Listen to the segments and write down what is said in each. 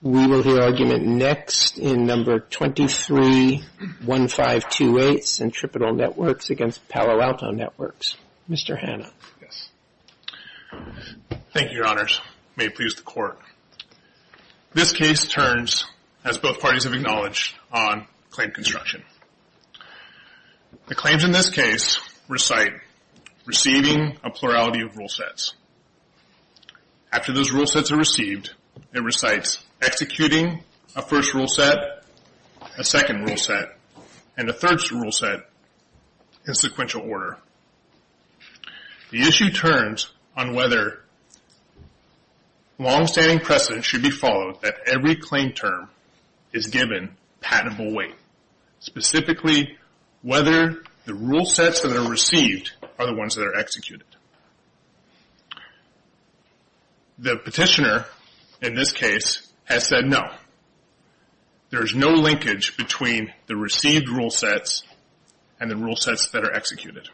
We will hear argument next in number 231528, Centripetal Networks against Palo Alto Networks. Mr. Hanna. Thank you, Your Honors. May it please the Court. This case turns, as both parties have acknowledged, on claim construction. The claims in this case recite receiving a plurality of rule sets. After those rule sets are received, it recites executing a first rule set, a second rule set, and a third rule set in sequential order. The issue turns on whether long-standing precedent should be followed that every claim term is given patentable weight, specifically whether the rule sets that are received are the ones that are executed. The petitioner, in this case, has said no. There is no linkage between the received rule sets and the rule sets that are executed.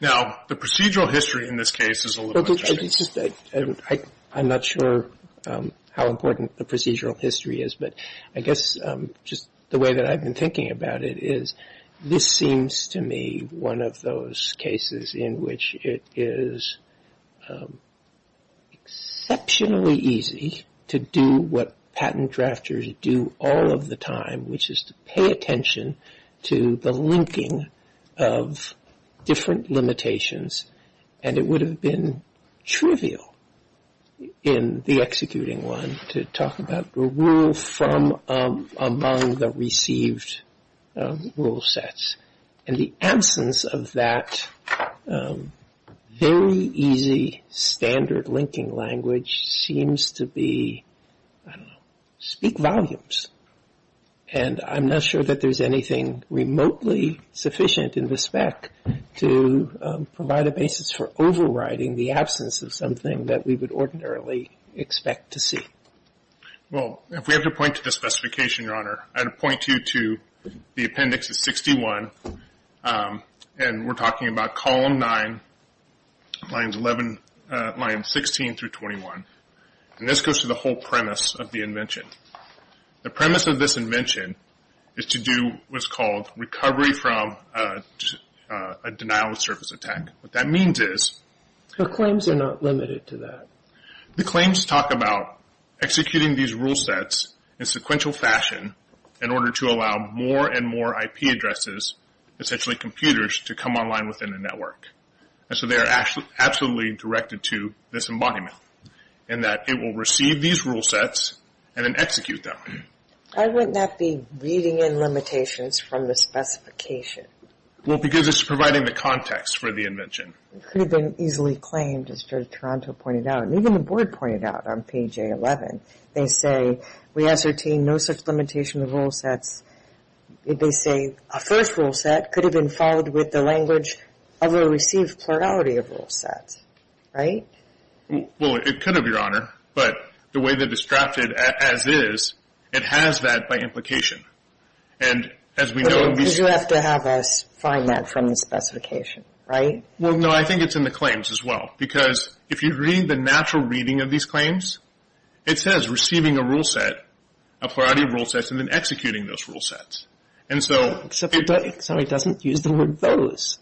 Now the procedural history in this case is a little different. I'm not sure how important the procedural history is, but I guess just the way that I've been thinking about it is this seems to me one of those cases in which it is exceptionally easy to do what patent drafters do all of the time, which is to pay attention to the linking of different limitations, and it would have been trivial in the executing one to talk about the rule from among the received rule sets. And the absence of that very easy standard linking language seems to be, I don't know, speak volumes. And I'm not sure that there's anything remotely sufficient in the spec to provide a basis for overriding the absence of something that we would ordinarily expect to see. Well, if we have to point to the specification, Your Honor, I'd point you to the Appendix of 61, and we're talking about column 9, lines 11, lines 16 through 21, and this goes to the whole premise of the invention. The premise of this invention is to do what's called recovery from a denial of service attack. What that means is... The claims are not limited to that. The claims talk about executing these rule sets in sequential fashion in order to allow more and more IP addresses, essentially computers, to come online within a network. And so they are absolutely directed to this embodiment, in that it will receive these rule sets and then execute them. I would not be reading in limitations from the specification. Well, because it's providing the context for the invention. It could have been easily claimed, as Judge Toronto pointed out, and even the Board pointed out on page A11. They say, we ascertain no such limitation of rule sets. They say a first rule set could have been followed with the language of a received plurality of rule sets. Right? Well, it could have, Your Honor, but the way that it's drafted as is, it has that by implication. And as we know... But you have to have us find that from the specification, right? Well, no, I think it's in the claims as well. Because if you read the natural reading of these claims, it says receiving a rule set, a plurality of rule sets, and then executing those rule sets. And so... Except it doesn't use the word those.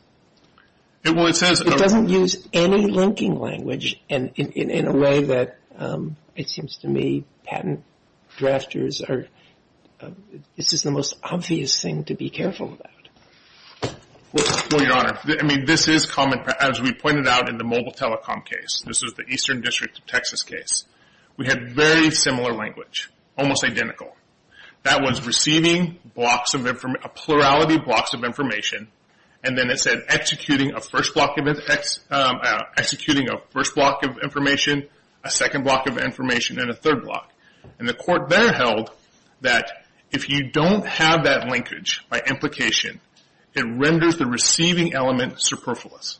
Well, it says... It doesn't use any linking language in a way that, it seems to me, patent drafters are... to be careful about. Well, Your Honor, I mean, this is common, as we pointed out in the mobile telecom case. This was the Eastern District of Texas case. We had very similar language, almost identical. That was receiving blocks of information, a plurality of blocks of information. And then it said, executing a first block of... Executing a first block of information, a second block of information, and a third block. And the court there held that if you don't have that linkage by implication, it renders the receiving element superfluous.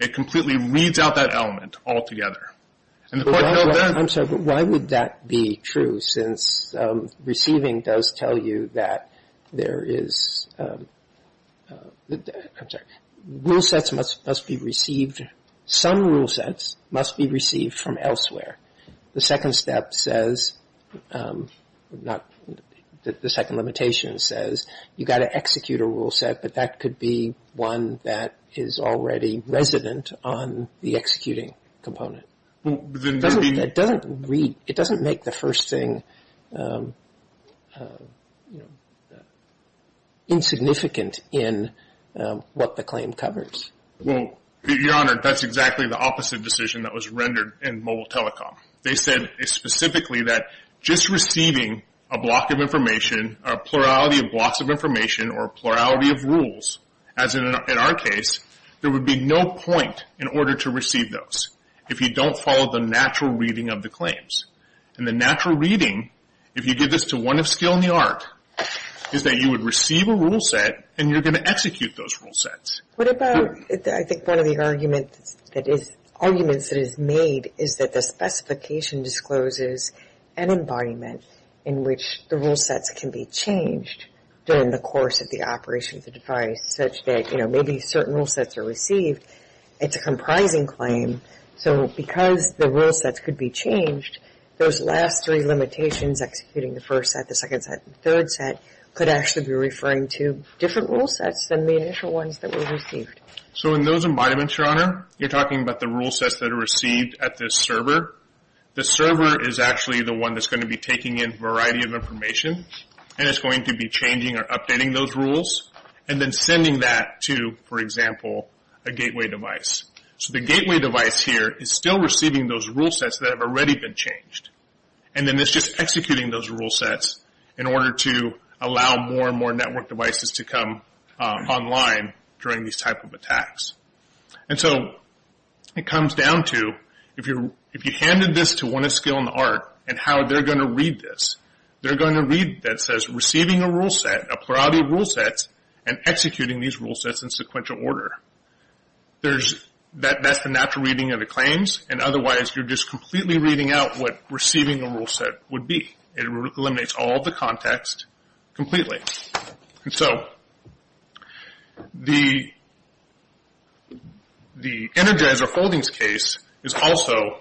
It completely reads out that element altogether. And the court held that... I'm sorry, but why would that be true? Since receiving does tell you that there is, I'm sorry, rule sets must be received. Some rule sets must be received from elsewhere. The second step says, the second limitation says, you've got to execute a rule set, but that could be one that is already resident on the executing component. It doesn't make the first thing insignificant in what the claim covers. Well, Your Honor, that's exactly the opposite decision that was rendered in Mobile Telecom. They said specifically that just receiving a block of information, a plurality of blocks of information, or a plurality of rules, as in our case, there would be no point in order to receive those if you don't follow the natural reading of the claims. And the natural reading, if you give this to one of skill in the art, is that you would receive a rule set and you're going to execute those rule sets. What about, I think one of the arguments that is made is that the specification discloses an embodiment in which the rule sets can be changed during the course of the operation of the device such that, you know, maybe certain rule sets are received. It's a comprising claim. So because the rule sets could be changed, those last three limitations, executing the first set, the second set, the third set, could actually be referring to different rule sets than the initial ones that were received. So in those embodiments, Your Honor, you're talking about the rule sets that are received at this server. The server is actually the one that's going to be taking in a variety of information and it's going to be changing or updating those rules and then sending that to, for example, a gateway device. So the gateway device here is still receiving those rule sets that have already been changed. And then it's just executing those rule sets in order to allow more network devices to come online during these type of attacks. And so it comes down to, if you handed this to one of Skill and Art and how they're going to read this, they're going to read that says, receiving a rule set, a plurality of rule sets, and executing these rule sets in sequential order. There's, that's the natural reading of the claims. And otherwise, you're just completely reading out what receiving a rule set would be. It eliminates all of the context completely. And so the Energizer Foldings case is also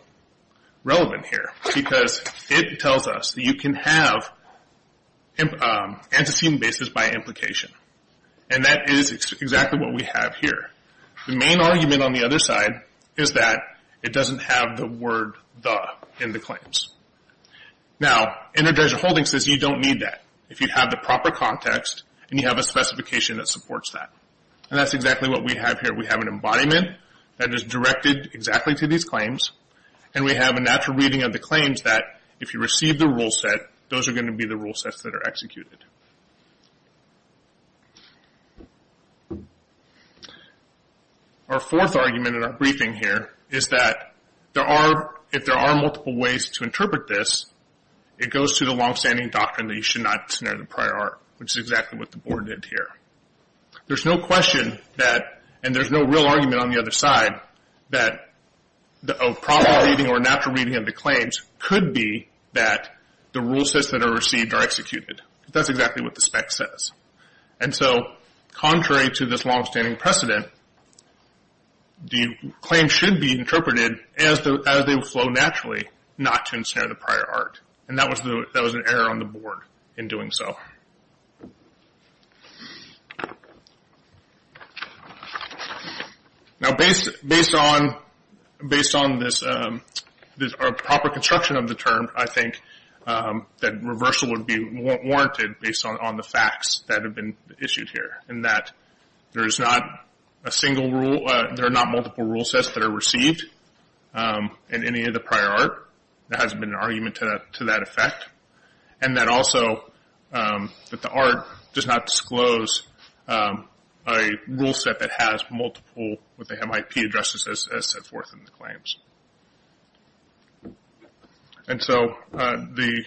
relevant here because it tells us that you can have antecedent basis by implication. And that is exactly what we have here. The main argument on the other side is that it doesn't have the word the in the claims. Now, Energizer Foldings says you don't need that. If you have the proper context and you have a specification that supports that. And that's exactly what we have here. We have an embodiment that is directed exactly to these claims. And we have a natural reading of the claims that if you receive the rule set, those are going to be the rule sets that are executed. Our fourth argument in our briefing here is that there are, if there are multiple ways to interpret this, it goes to the longstanding doctrine that you should not snare the prior art. Which is exactly what the board did here. There's no question that, and there's no real argument on the other side, that the proper reading or natural reading of the claims could be that the rule sets that are received are executed. That's exactly what the spec says. And so, contrary to this longstanding precedent, the claim should be interpreted as they flow naturally, not to ensnare the prior art. And that was an error on the board in doing so. Now, based on this proper construction of the term, I think that reversal would be warranted based on the facts that have been issued here. In that, there is not a single rule, there are not multiple rule sets that are received in any of the prior art. There hasn't been an argument to that effect. And that also, that the art does not disclose a rule set that has multiple, that they have IP addresses as set forth in the claims. And so, the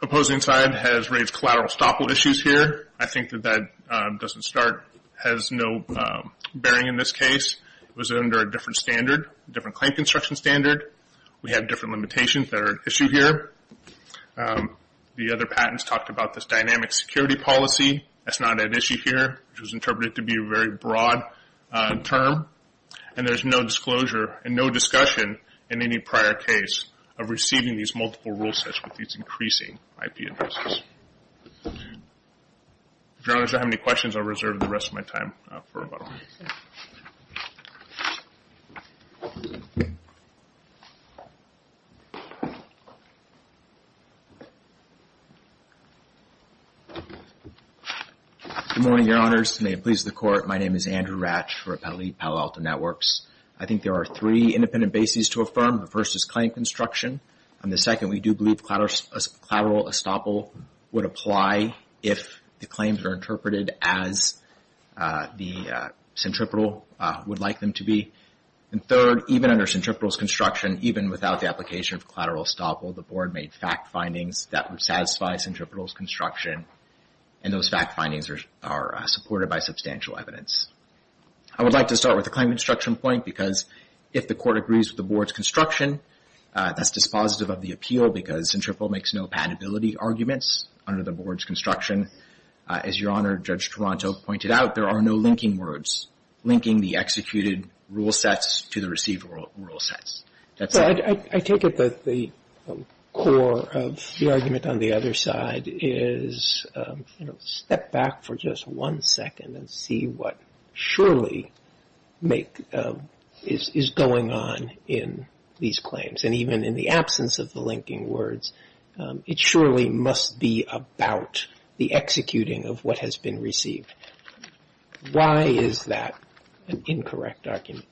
opposing side has raised collateral estoppel issues here. I think that that doesn't start, has no bearing in this case. It was under a different standard, a different claim construction standard. We have different limitations that are at issue here. The other patents talked about this dynamic security policy. That's not at issue here, which was interpreted to be a very broad term. And there's no disclosure and no discussion in any prior case of receiving these multiple rule sets with these increasing IP addresses. If Your Honors, I don't have any questions, I'll reserve the rest of my time for about a minute. Good morning, Your Honors. May it please the Court. My name is Andrew Ratch for Appellate Palo Alto Networks. I think there are three independent bases to affirm. The first is claim construction. And the second, we do believe collateral estoppel would apply if the claims are interpreted as the centripetal would like them to be. And third, even under centripetal's construction, even without the application of collateral estoppel, the Board made fact findings that would satisfy centripetal's construction. And those fact findings are supported by substantial evidence. I would like to start with the claim construction point because if the Court agrees with the Board's construction, that's dispositive of the appeal because centripetal makes no compatibility arguments under the Board's construction. As Your Honor, Judge Toronto pointed out, there are no linking words. Linking the executed rule sets to the received rule sets. That's it. I take it that the core of the argument on the other side is step back for just one second and see what surely is going on in these claims. And even in the absence of the linking words, it surely must be about the executing of what has been received. Why is that an incorrect argument?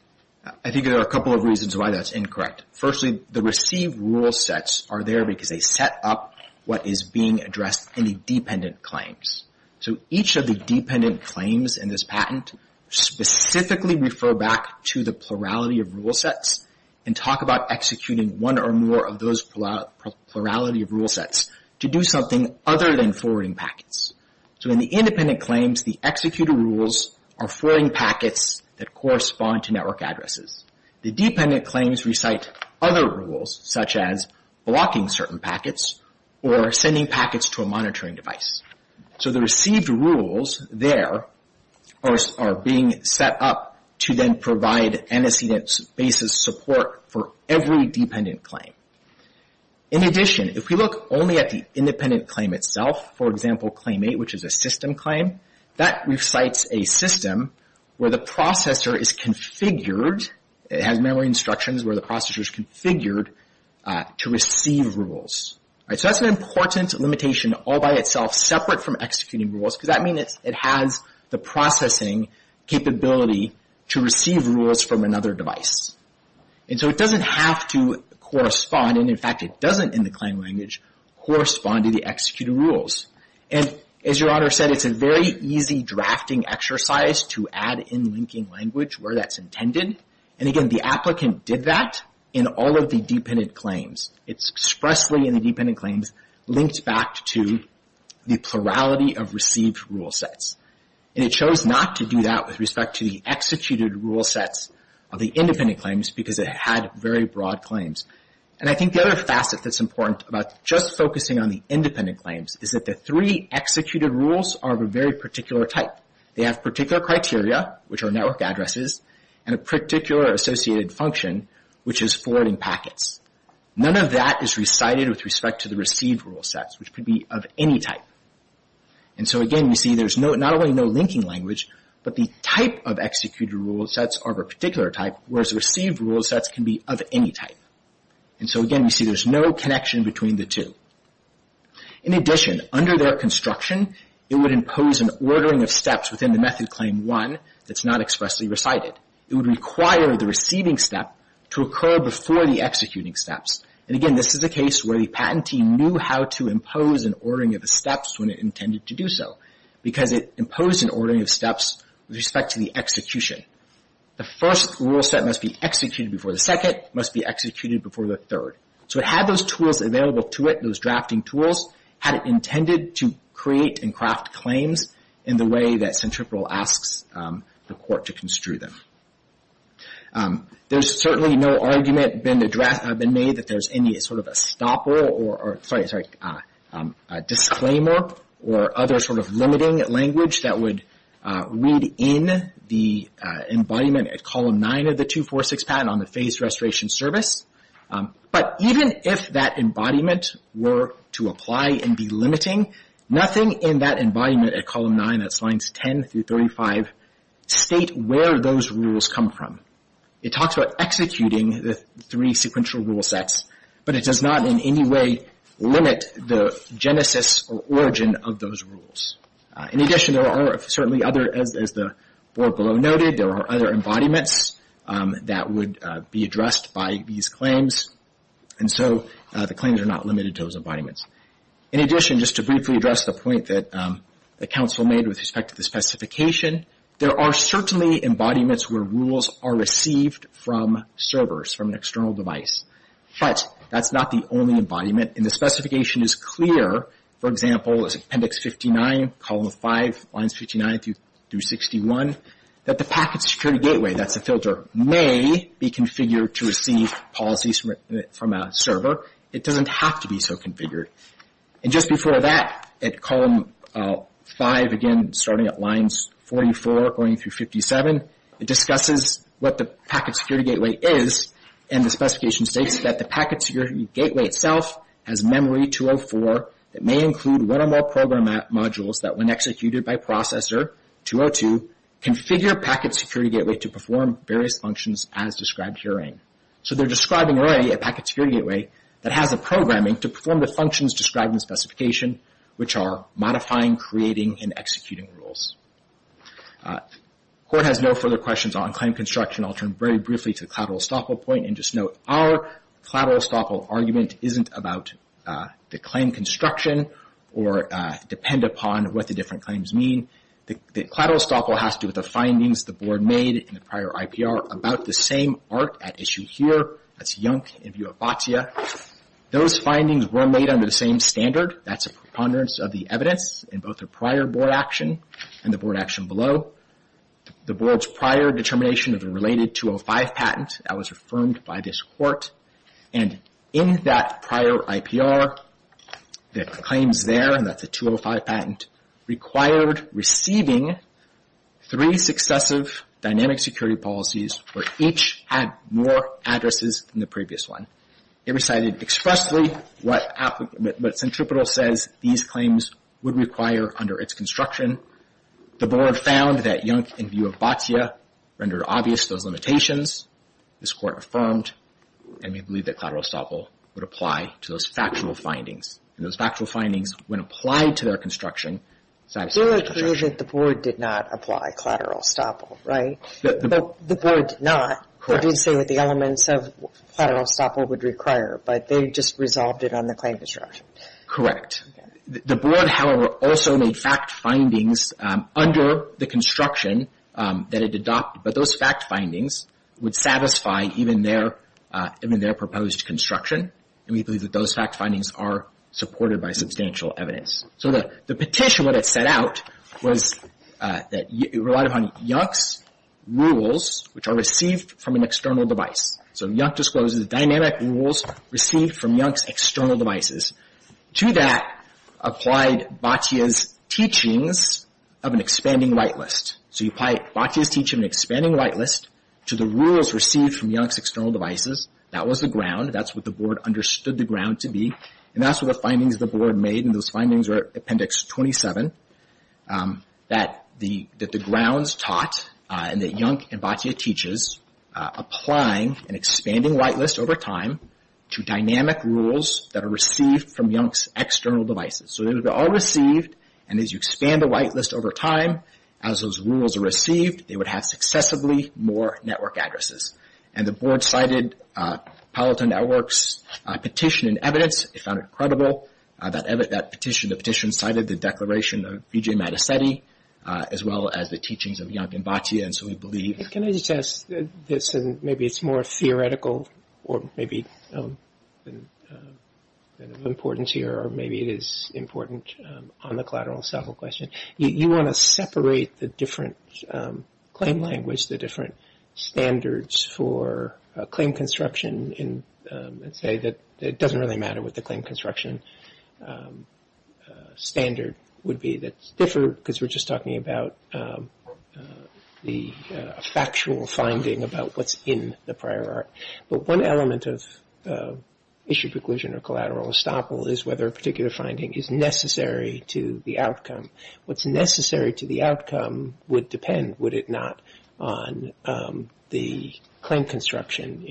I think there are a couple of reasons why that's incorrect. Firstly, the received rule sets are there because they set up what is being addressed in the dependent claims. So each of the dependent claims in this patent specifically refer back to the plurality of rule sets and talk about executing one or more of those plurality of rule sets to do something other than forwarding packets. So in the independent claims, the executed rules are forwarding packets that correspond to network addresses. The dependent claims recite other rules such as blocking certain packets or sending packets to a monitoring device. So the received rules there are being set up to then provide antecedent basis support for every dependent claim. In addition, if we look only at the independent claim itself, for example, claim eight, which is a system claim, that recites a system where the processor is configured. It has memory instructions where the processor is configured to receive rules. So that's an important limitation all by itself separate from executing rules because that means it has the processing capability to receive rules from another device. And so it doesn't have to correspond, and in fact it doesn't in the claim language, correspond to the executed rules. And as your honor said, it's a very easy drafting exercise to add in linking language where that's intended. And again, the applicant did that in all of the dependent claims. It's expressly in the dependent claims linked back to the plurality of received rule sets. And it chose not to do that with respect to the executed rule sets of the independent claims because it had very broad claims. And I think the other facet that's important about just focusing on the independent claims is that the three executed rules are of a very particular type. They have particular criteria, which are network addresses, and a particular associated function, which is forwarding packets. None of that is recited with respect to the received rule sets, which could be of any type. And so again, you see there's not only no linking language, but the type of executed rule sets are of a particular type, whereas received rule sets can be of any type. And so again, you see there's no connection between the two. In addition, under their construction, it would impose an ordering of steps within the method claim one that's not expressly recited. It would require the receiving step to occur before the executing steps. And again, this is a case where the patentee knew how to impose an ordering of the steps when it intended to do so because it imposed an ordering of steps with respect to the execution. The first rule set must be executed before the second, must be executed before the third. So it had those tools available to it, those drafting tools, had it intended to create and craft claims in the way that Centripetal asks the court to construe them. There's certainly no argument been made that there's any sort of a stopper or, sorry, disclaimer or other sort of limiting language that would read in the embodiment at column nine of the 246 patent on the phased restoration service. But even if that embodiment were to apply and be limiting, nothing in that embodiment at column nine, that's lines 10 through 35, state where those rules come from. It talks about executing the three sequential rule sets, but it does not in any way limit the genesis or origin of those rules. In addition, there are certainly other, as the board below noted, there are other embodiments that would be addressed by these claims. And so the claims are not limited to those embodiments. In addition, just to briefly address the point that the council made with respect to the specification, there are certainly embodiments where rules are received from servers, from an external device. But that's not the only embodiment, and the specification is clear. For example, it's appendix 59, column five, lines 59 through 61, that the packet security gateway, that's the filter, may be configured to receive policies from a server. It doesn't have to be so configured. And just before that, at column five, again, starting at lines 44 going through 57, it discusses what the packet security gateway is, and the specification states that the packet security gateway itself has memory 204 that may include one or more program modules that when executed by processor 202, configure packet security gateway to perform various functions as described herein. So they're describing already a packet security gateway that has the programming to perform the functions described in the specification, which are modifying, creating, and executing rules. Court has no further questions on claim construction. I'll turn very briefly to the collateral estoppel point, and just note, our collateral estoppel argument isn't about the claim construction or depend upon what the different claims mean. The collateral estoppel has to do with the findings the board made in the prior IPR about the same art at issue here, that's YONC in view of FATIA. Those findings were made under the same standard. That's a preponderance of the evidence in both the prior board action and the board action below. The board's prior determination of the related 205 patent that was affirmed by this court. And in that prior IPR, the claims there, and that's the 205 patent, required receiving three successive dynamic security policies where each had more addresses than the previous one. It recited expressly what Centripetal says these claims would require under its construction. The board found that YONC in view of FATIA rendered obvious those limitations. This court affirmed, and we believe that collateral estoppel would apply to those factual findings. And those factual findings, when applied to their construction, satisfied the charge. Your opinion is that the board did not apply collateral estoppel, right? The board did not. We did say that the elements of collateral estoppel would require, but they just resolved it on the claim construction. Correct. The board, however, also made fact findings under the construction that it adopted. But those fact findings would satisfy even their proposed construction. And we believe that those fact findings are supported by substantial evidence. So the petition, what it set out, was that it relied upon YONC's rules, which are received from an external device. So YONC discloses dynamic rules received from YONC's external devices. To that applied FATIA's teachings of an expanding whitelist. So you apply FATIA's teaching of an expanding whitelist to the rules received from YONC's external devices. That was the ground. That's what the board understood the ground to be. And that's what the findings of the board made. And those findings are Appendix 27. That the grounds taught, and that YONC and FATIA teaches, applying an expanding whitelist over time to dynamic rules that are received from YONC's external devices. So it would be all received, and as you expand the whitelist over time, as those rules are received, they would have successively more network addresses. And the board cited Palo Alto Network's petition and evidence. It found it credible. That petition cited the declaration of Vijay Maddassedi, as well as the teachings of YONC and FATIA. And so we believe... Can I just ask this, and maybe it's more theoretical, or maybe of importance here, or maybe it is important on the collateral and settle question. You want to separate the different claim language, the different standards for claim construction. And say that it doesn't really matter what the claim construction standard would be. That's different, because we're just talking about the factual finding about what's in the prior art. But one element of issue preclusion or collateral estoppel is whether a particular finding is necessary to the outcome. What's necessary to the outcome would depend, would it not, on the claim construction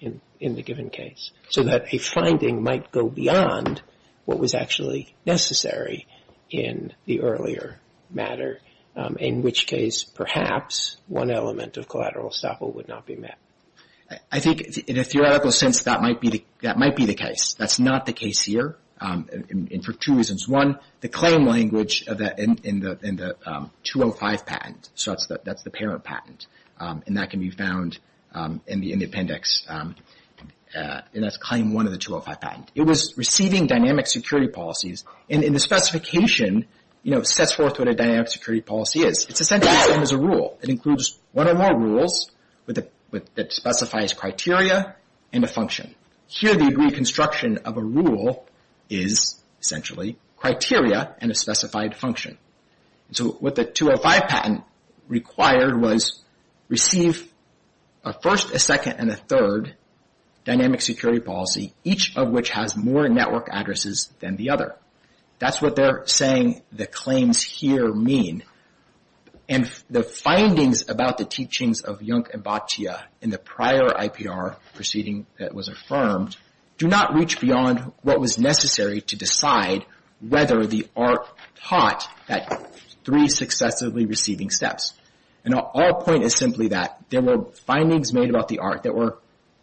in the given case. So that a finding might go beyond what was actually necessary in the earlier matter. In which case, perhaps, one element of collateral estoppel would not be met. I think in a theoretical sense, that might be the case. That's not the case here, and for two reasons. One, the claim language in the 205 patent, so that's the parent patent, and that can be found in the appendix. And that's claim one of the 205 patent. It was receiving dynamic security policies, and the specification sets forth what a dynamic security policy is. It's essentially the same as a rule. It includes one or more rules that specifies criteria and a function. Here, the reconstruction of a rule is, essentially, criteria and a specified function. So what the 205 patent required was, receive a first, a second, and a third dynamic security policy, each of which has more network addresses than the other. That's what they're saying the claims here mean. And the findings about the teachings of Jung and Bhatia in the prior IPR proceeding that was affirmed do not reach beyond what was necessary to decide whether the ARC taught that three successively receiving steps. And our point is simply that there were findings made about the ARC that were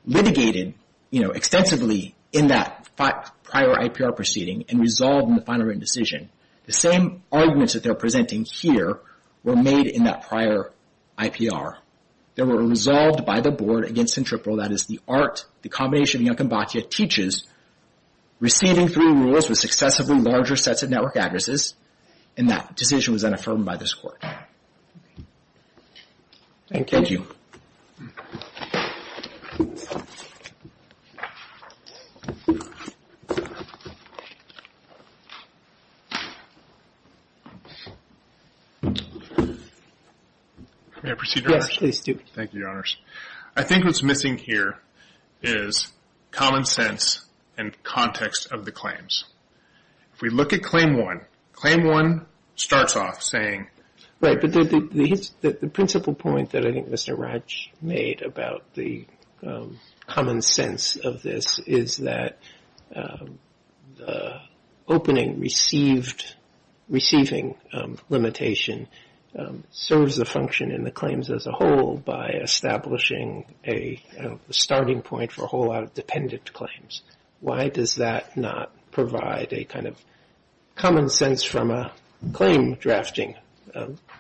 litigated extensively in that prior IPR proceeding and resolved in the final written decision. The same arguments that they're presenting here were made in that prior IPR. They were resolved by the board against centripetal, that is the ARC, the combination of Jung and Bhatia, teaches receiving three rules with successively larger sets of network addresses. And that decision was then affirmed by this court. Thank you. May I proceed, Your Honors? Yes, please do. Thank you, Your Honors. I think what's missing here is common sense and context of the claims. If we look at Claim 1, Claim 1 starts off saying... Right, but the principal point that I didn't want to start with you can see that there's a lot of information in there. The point that Raj made about the common sense of this is that the opening receiving limitation serves a function in the claims as a whole by establishing a starting point for a whole lot of dependent claims. Why does that not provide a kind of common sense from a claim drafting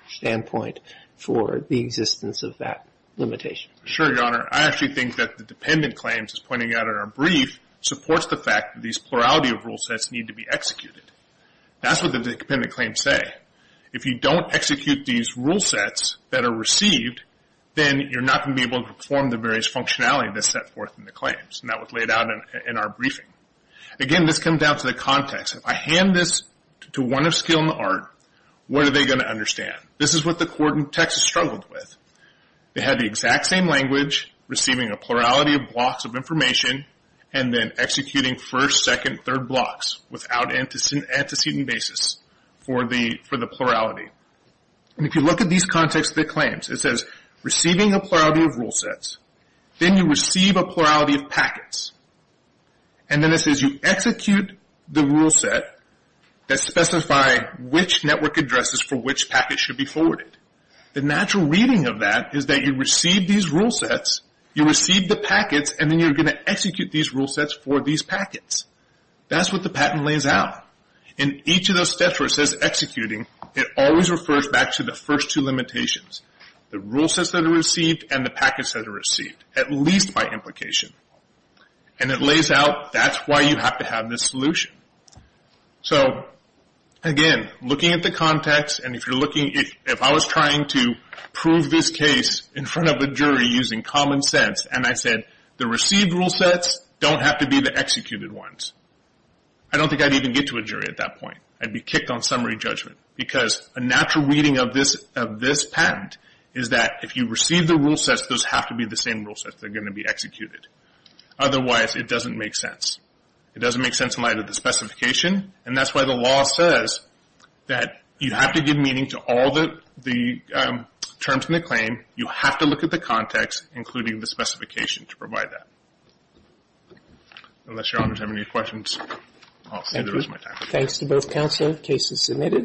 standpoint for the existence of that limitation? Sure, Your Honor. I actually think that the dependent claims, as pointed out in our brief, supports the fact that these plurality of rule sets need to be executed. That's what the dependent claims say. If you don't execute these rule sets that are received, then you're not going to be able to perform the various functionality that's set forth in the claims. And that was laid out in our briefing. Again, this comes down to the context. If I hand this to one of skill in the art, what are they going to understand? This is what the court in Texas struggled with. They had the exact same language, receiving a plurality of blocks of information, and then executing first, second, third blocks without antecedent basis for the plurality. If you look at these contexts of the claims, it says receiving a plurality of rule sets. Then you receive a plurality of packets. And then it says you execute the rule set that specify which network addresses for which packets should be forwarded. The natural reading of that is that you receive these rule sets, you receive the packets, and then you're going to execute these rule sets for these packets. That's what the patent lays out. In each of those steps where it says executing, it always refers back to the first two limitations, the rule sets that are received and the packets that are received, at least by implication. It lays out that's why you have to have this solution. Again, looking at the context, if I was trying to prove this case in front of a jury using common sense, and I said the received rule sets don't have to be the executed ones, I don't think I'd even get to a jury at that point. I'd be kicked on summary judgment. A natural reading of this patent is that if you receive the rule sets, those have to be the same rule sets that are going to be executed. Otherwise, it doesn't make sense. It doesn't make sense in light of the specification, and that's why the law says that you have to give meaning to all the terms in the claim. You have to look at the context, including the specification, to provide that. Unless Your Honors have any questions, I'll say there is no time. Thank you. Thanks to both counsel. The case is submitted.